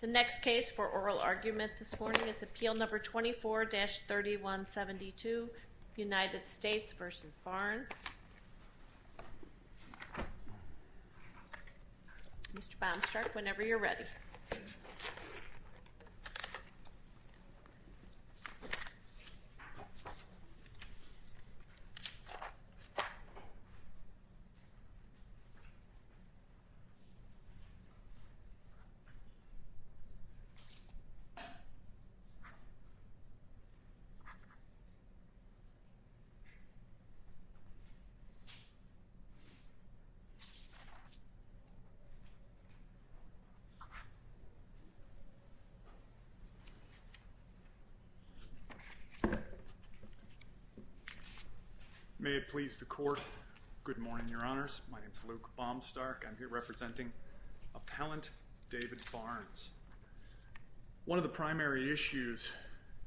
The next case for oral argument this morning is Appeal No. 24-3172, United States v. Barnes. Mr. Baumstruck, whenever you're ready. Mr. Baumstruck May it please the court. Good morning, Your Honors. My name is Luke Baumstruck. I'm here representing Appellant David Barnes. One of the primary issues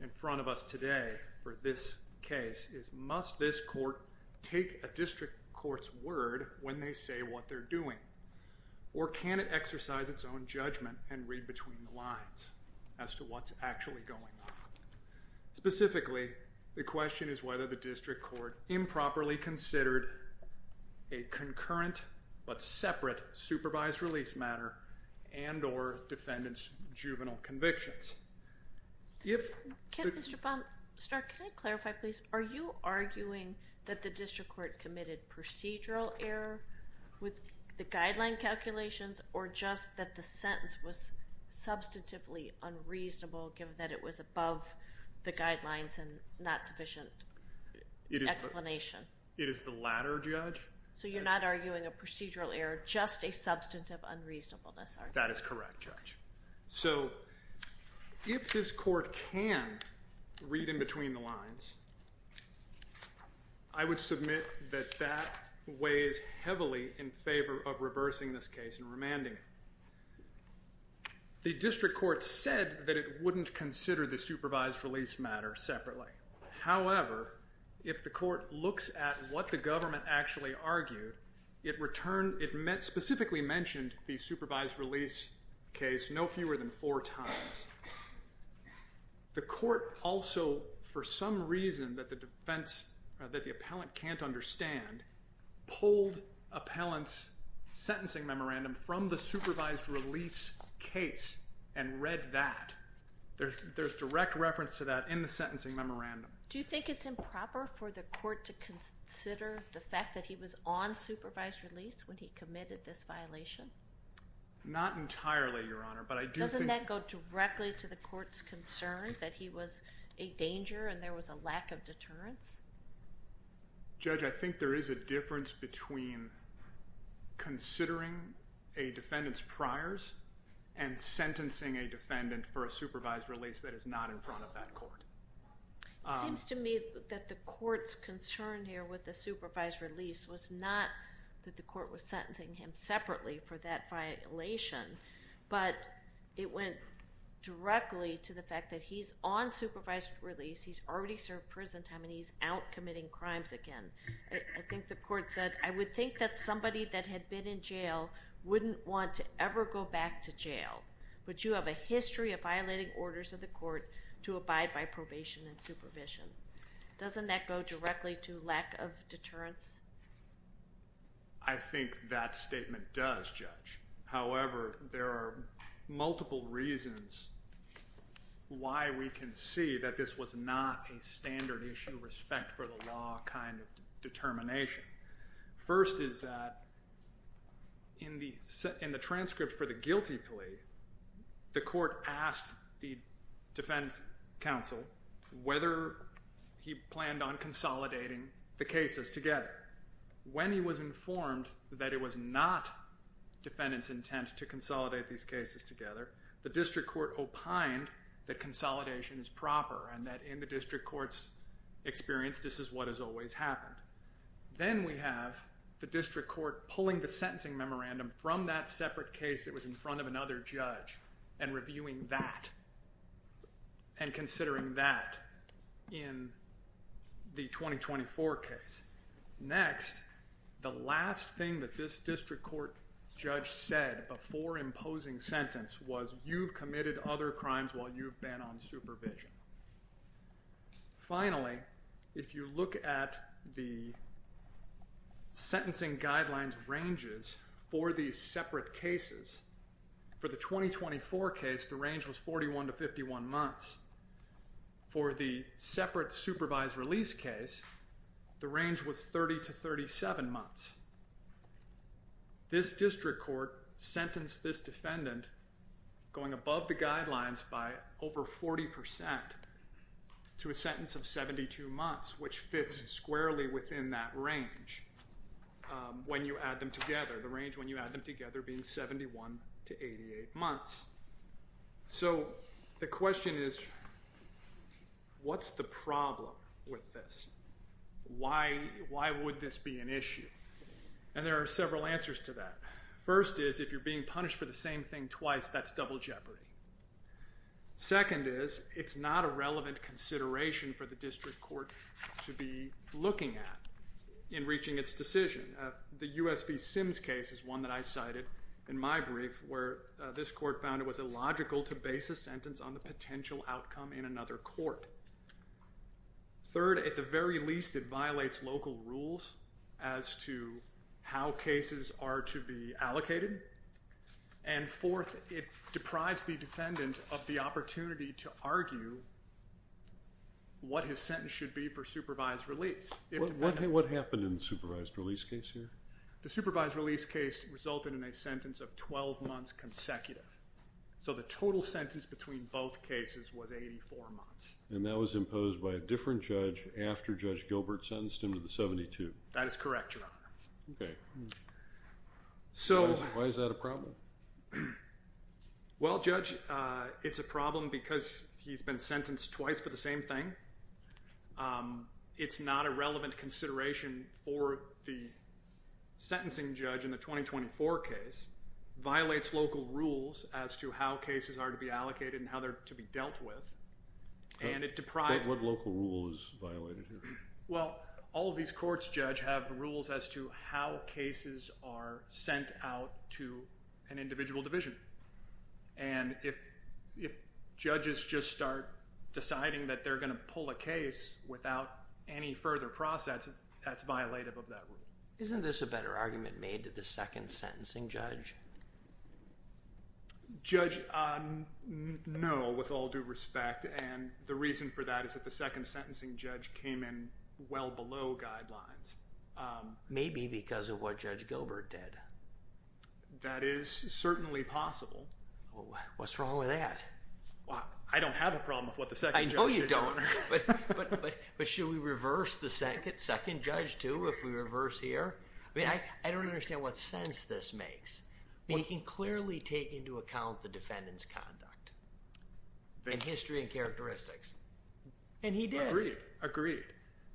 in front of us today for this case is, must this court take a district court's word when they say what they're doing? Or can it exercise its own judgment and read between the lines as to what's actually going on? Specifically, the question is whether the district court improperly considered a concurrent but separate supervised release matter and or defendant's juvenile convictions. Mr. Baumstruck, can I clarify please? Are you arguing that the district court committed procedural error with the guideline calculations or just that the sentence was substantively unreasonable given that it was above the guidelines and not sufficient explanation? It is the latter, Judge. So you're not arguing a procedural error, just a substantive unreasonableness, are you? That is correct, Judge. So if this court can read in between the lines, I would submit that that weighs heavily in favor of reversing this case and remanding it. The district court said that it wouldn't consider the supervised release matter separately. However, if the court looks at what the government actually argued, it specifically mentioned the supervised release case no fewer than four times. The court also, for some reason that the defense, that the appellant can't understand, pulled appellant's sentencing memorandum from the supervised release case and read that. There's direct reference to that in the sentencing memorandum. Do you think it's improper for the court to consider the fact that he was on supervised release when he committed this violation? Not entirely, Your Honor. Doesn't that go directly to the court's concern that he was a danger and there was a lack of deterrence? Judge, I think there is a difference between considering a defendant's priors and sentencing a defendant for a supervised release that is not in front of that court. It seems to me that the court's concern here with the supervised release was not that the court was sentencing him separately for that violation, but it went directly to the fact that he's on supervised release, he's already served prison time, and he's out committing crimes again. I think the court said, I would think that somebody that had been in jail wouldn't want to ever go back to jail, but you have a history of violating orders of the court to abide by probation and supervision. Doesn't that go directly to lack of deterrence? I think that statement does, Judge. However, there are multiple reasons why we can see that this was not a standard issue respect for the law kind of determination. First is that in the transcript for the guilty plea, the court asked the defense counsel whether he planned on consolidating the cases together. When he was informed that it was not defendant's intent to consolidate these cases together, the district court opined that consolidation is proper and that in the district court's experience, this is what has always happened. Then we have the district court pulling the sentencing memorandum from that separate case that was in front of another judge and reviewing that and considering that in the 2024 case. Next, the last thing that this district court judge said before imposing sentence was you've committed other crimes while you've been on supervision. Finally, if you look at the sentencing guidelines ranges for these separate cases, for the 2024 case, the range was 41 to 51 months. For the separate supervised release case, the range was 30 to 37 months. This district court sentenced this defendant going above the guidelines by over 40% to a sentence of 72 months, which fits squarely within that range when you add them together, the range when you add them together being 71 to 88 months. So the question is what's the problem with this? Why would this be an issue? And there are several answers to that. First is if you're being punished for the same thing twice, that's double jeopardy. Second is it's not a relevant consideration for the district court to be looking at in reaching its decision. The US v. Sims case is one that I cited in my brief where this court found it was illogical to base a sentence on the potential outcome in another court. Third, at the very least, it violates local rules as to how cases are to be allocated. And fourth, it deprives the defendant of the opportunity to argue what his sentence should be for supervised release. What happened in the supervised release case here? The supervised release case resulted in a sentence of 12 months consecutive. So the total sentence between both cases was 84 months. And that was imposed by a different judge after Judge Gilbert sentenced him to the 72. That is correct, Your Honor. Okay. Why is that a problem? Well, Judge, it's a problem because he's been sentenced twice for the same thing. It's not a relevant consideration for the sentencing judge in the 2024 case. It violates local rules as to how cases are to be allocated and how they're to be dealt with. But what local rule is violated here? Well, all of these courts, Judge, have rules as to how cases are sent out to an individual division. And if judges just start deciding that they're going to pull a case without any further process, that's violative of that rule. Isn't this a better argument made to the second sentencing judge? Judge, no, with all due respect. And the reason for that is that the second sentencing judge came in well below guidelines. Maybe because of what Judge Gilbert did. That is certainly possible. What's wrong with that? I don't have a problem with what the second judge did. But should we reverse the second judge, too, if we reverse here? I mean, I don't understand what sense this makes. He can clearly take into account the defendant's conduct and history and characteristics. And he did. Agreed, agreed.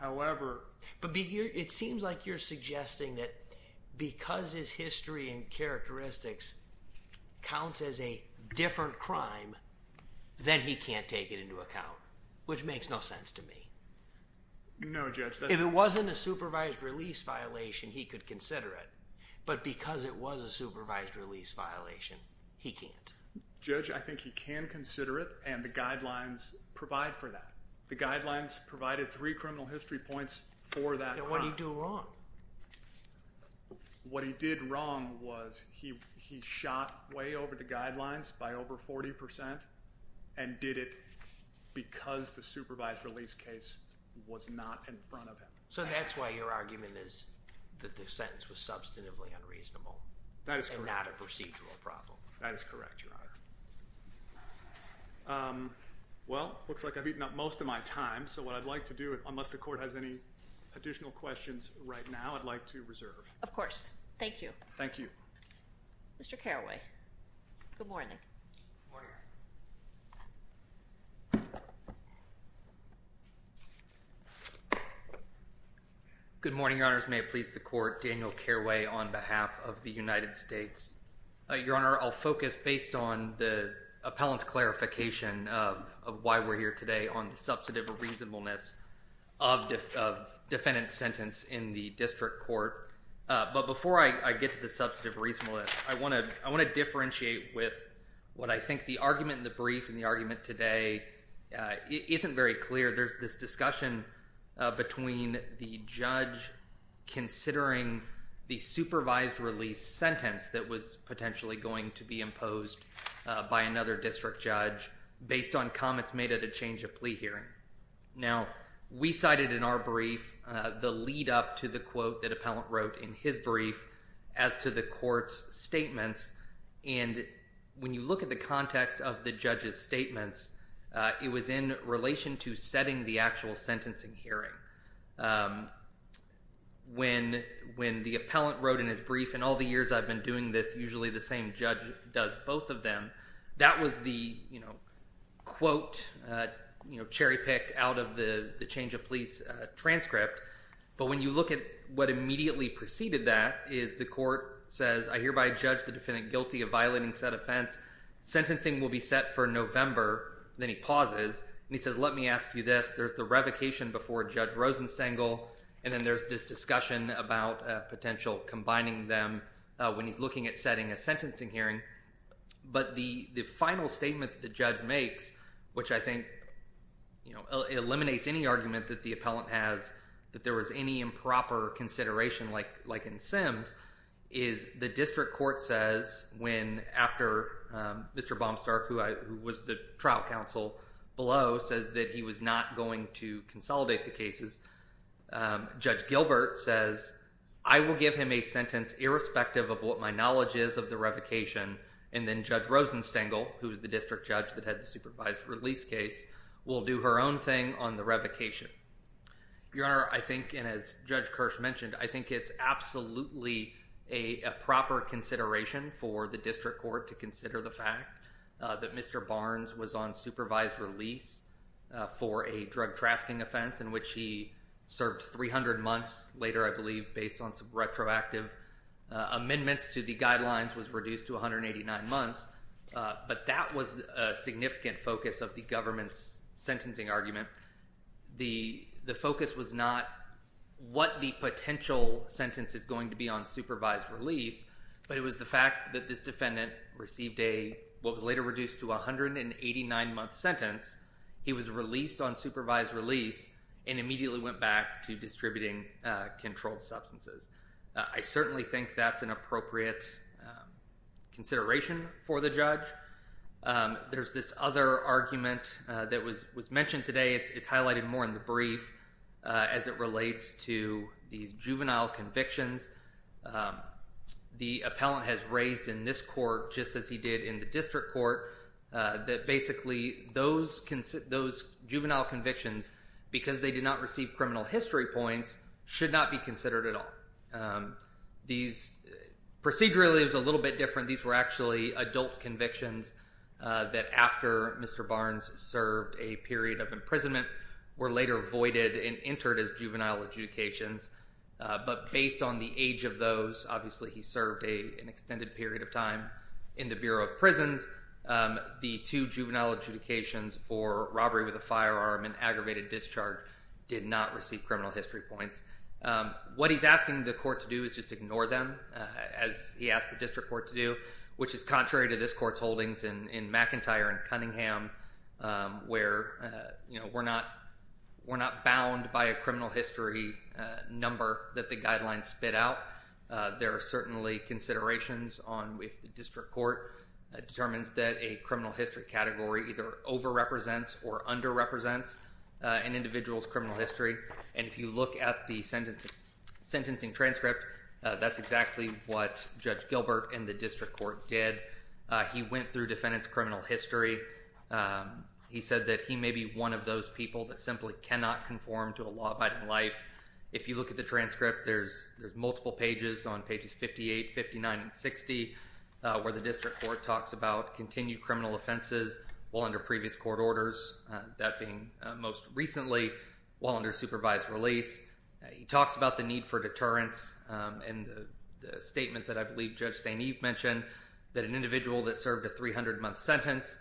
But it seems like you're suggesting that because his history and characteristics counts as a different crime, then he can't take it into account. Which makes no sense to me. No, Judge. If it wasn't a supervised release violation, he could consider it. But because it was a supervised release violation, he can't. Judge, I think he can consider it, and the guidelines provide for that. The guidelines provided three criminal history points for that crime. And what did he do wrong? What he did wrong was he shot way over the guidelines, by over 40%, and did it because the supervised release case was not in front of him. So that's why your argument is that the sentence was substantively unreasonable. That is correct. And not a procedural problem. That is correct, Your Honor. Well, it looks like I've eaten up most of my time. So what I'd like to do, unless the court has any additional questions right now, I'd like to reserve. Of course. Thank you. Thank you. Mr. Carraway. Good morning. Good morning. Good morning, Your Honors. May it please the court, Daniel Carraway on behalf of the United States. Your Honor, I'll focus based on the appellant's clarification of why we're here today on the substantive reasonableness of defendant's sentence in the district court. But before I get to the substantive reasonableness, I want to differentiate with what I think the argument in the brief and the argument today isn't very clear. There's this discussion between the judge considering the supervised release sentence that was potentially going to be imposed by another district judge based on comments made at a change of plea hearing. Now, we cited in our brief the lead up to the quote that appellant wrote in his brief as to the court's statements. And when you look at the context of the judge's statements, it was in relation to setting the actual sentencing hearing. When the appellant wrote in his brief, in all the years I've been doing this, usually the same judge does both of them, that was the quote cherry-picked out of the change of pleas transcript. But when you look at what immediately preceded that is the court says, I hereby judge the defendant guilty of violating said offense. Sentencing will be set for November. Then he pauses and he says, let me ask you this. There's the revocation before Judge Rosenstengel, and then there's this discussion about potential combining them when he's looking at setting a sentencing hearing. But the final statement that the judge makes, which I think eliminates any argument that the appellant has that there was any improper consideration like in Sims, is the district court says when after Mr. Baumstark, who was the trial counsel below, says that he was not going to consolidate the cases, Judge Gilbert says, I will give him a sentence irrespective of what my knowledge is of the revocation. And then Judge Rosenstengel, who is the district judge that had the supervised release case, will do her own thing on the revocation. Your Honor, I think, and as Judge Kirsch mentioned, I think it's absolutely a proper consideration for the district court to consider the fact that Mr. Barnes was on supervised release for a drug trafficking offense in which he served 300 months later, I believe, based on some retroactive amendments to the guidelines, was reduced to 189 months. But that was a significant focus of the government's sentencing argument. The focus was not what the potential sentence is going to be on supervised release, but it was the fact that this defendant received a, what was later reduced to 189-month sentence. He was released on supervised release and immediately went back to distributing controlled substances. I certainly think that's an appropriate consideration for the judge. There's this other argument that was mentioned today. It's highlighted more in the brief as it relates to these juvenile convictions. The appellant has raised in this court, just as he did in the district court, that basically those juvenile convictions, because they did not receive criminal history points, should not be considered at all. Procedurally, it was a little bit different. These were actually adult convictions that after Mr. Barnes served a period of imprisonment were later voided and entered as juvenile adjudications. But based on the age of those, obviously he served an extended period of time in the Bureau of Prisons, the two juvenile adjudications for robbery with a firearm and aggravated discharge did not receive criminal history points. What he's asking the court to do is just ignore them, as he asked the district court to do, which is contrary to this court's holdings in McIntyre and Cunningham, where we're not bound by a criminal history number that the guidelines spit out. There are certainly considerations on if the district court determines that a criminal history category either over-represents or under-represents an individual's criminal history. And if you look at the sentencing transcript, that's exactly what Judge Gilbert in the district court did. He went through defendant's criminal history. He said that he may be one of those people that simply cannot conform to a law-abiding life. If you look at the transcript, there's multiple pages on pages 58, 59, and 60, where the district court talks about continued criminal offenses while under previous court orders, that being most recently while under supervised release. He talks about the need for deterrence and the statement that I believe Judge St. Eve mentioned that an individual that served a 300-month sentence,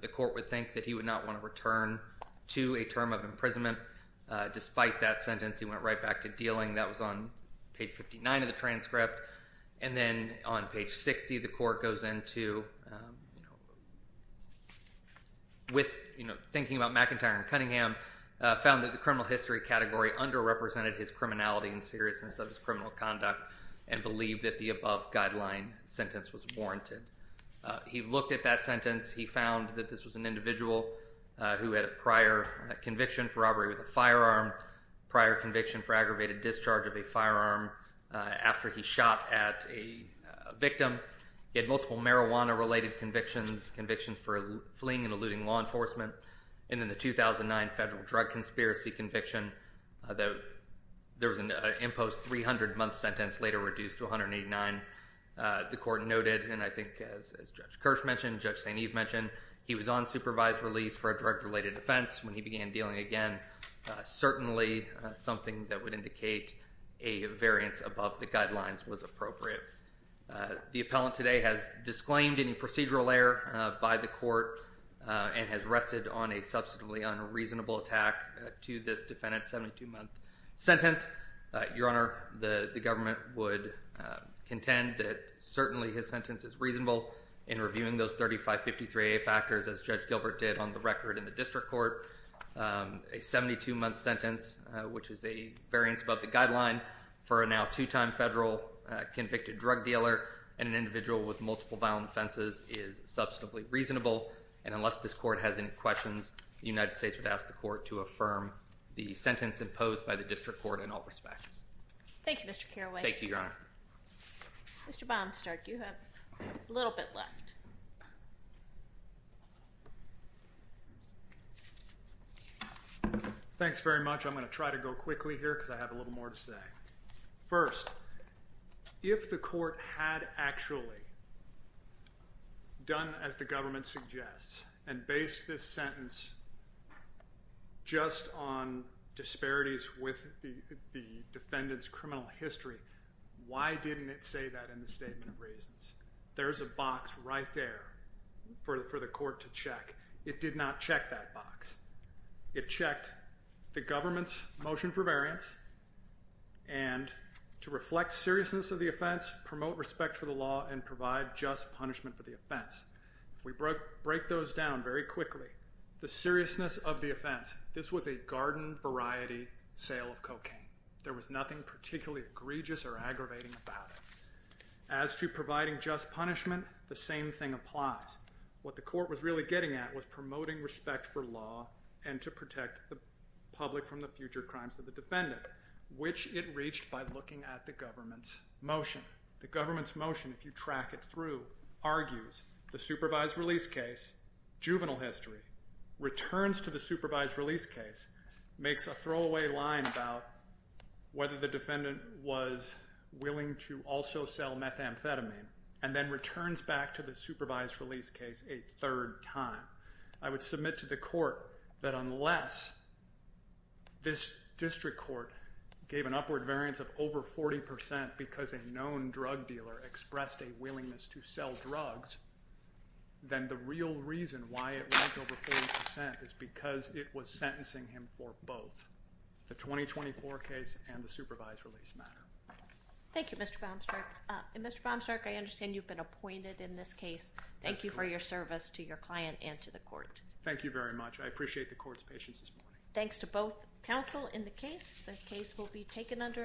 the court would think that he would not want to return to a term of imprisonment. Despite that sentence, he went right back to dealing. That was on page 59 of the transcript. And then on page 60, the court goes into, with thinking about McIntyre and Cunningham, found that the criminal history category underrepresented his criminality and seriousness of his criminal conduct and believed that the above guideline sentence was warranted. He looked at that sentence. He found that this was an individual who had a prior conviction for robbery with a firearm, prior conviction for aggravated discharge of a firearm after he shot at a victim. He had multiple marijuana-related convictions, convictions for fleeing and eluding law enforcement, and then the 2009 federal drug conspiracy conviction. There was an imposed 300-month sentence later reduced to 189. The court noted, and I think as Judge Kirsch mentioned, Judge St. Eve mentioned, he was on supervised release for a drug-related offense when he began dealing again. Certainly something that would indicate a variance above the guidelines was appropriate. The appellant today has disclaimed any procedural error by the court and has rested on a subsequently unreasonable attack to this defendant's 72-month sentence. Your Honor, the government would contend that certainly his sentence is reasonable in reviewing those 3553A factors as Judge Gilbert did on the record in the district court. A 72-month sentence, which is a variance above the guideline, for a now two-time federal convicted drug dealer and an individual with multiple violent offenses is substantively reasonable, and unless this court has any questions, the United States would ask the court to affirm the sentence imposed by the district court in all respects. Thank you, Mr. Carraway. Thank you, Your Honor. Mr. Baumstark, you have a little bit left. Thanks very much. I'm going to try to go quickly here because I have a little more to say. First, if the court had actually done as the government suggests and based this sentence just on disparities with the defendant's criminal history, why didn't it say that in the Statement of Reasons? There's a box right there for the court to check. It did not check that box. It checked the government's motion for variance and to reflect seriousness of the offense, promote respect for the law, and provide just punishment for the offense. If we break those down very quickly, the seriousness of the offense, this was a garden variety sale of cocaine. There was nothing particularly egregious or aggravating about it. As to providing just punishment, the same thing applies. What the court was really getting at was promoting respect for law and to protect the public from the future crimes of the defendant, which it reached by looking at the government's motion. The government's motion, if you track it through, argues the supervised release case, juvenile history, returns to the supervised release case, makes a throwaway line about whether the defendant was willing to also sell methamphetamine, and then returns back to the supervised release case a third time. I would submit to the court that unless this district court gave an upward variance of over 40% because a known drug dealer expressed a willingness to sell drugs, then the real reason why it went over 40% is because it was sentencing him for both, the 2024 case and the supervised release matter. Thank you, Mr. Baumstark. Mr. Baumstark, I understand you've been appointed in this case. Thank you for your service to your client and to the court. Thank you very much. I appreciate the court's patience this morning. Thanks to both counsel in the case. The case will be taken under advisement.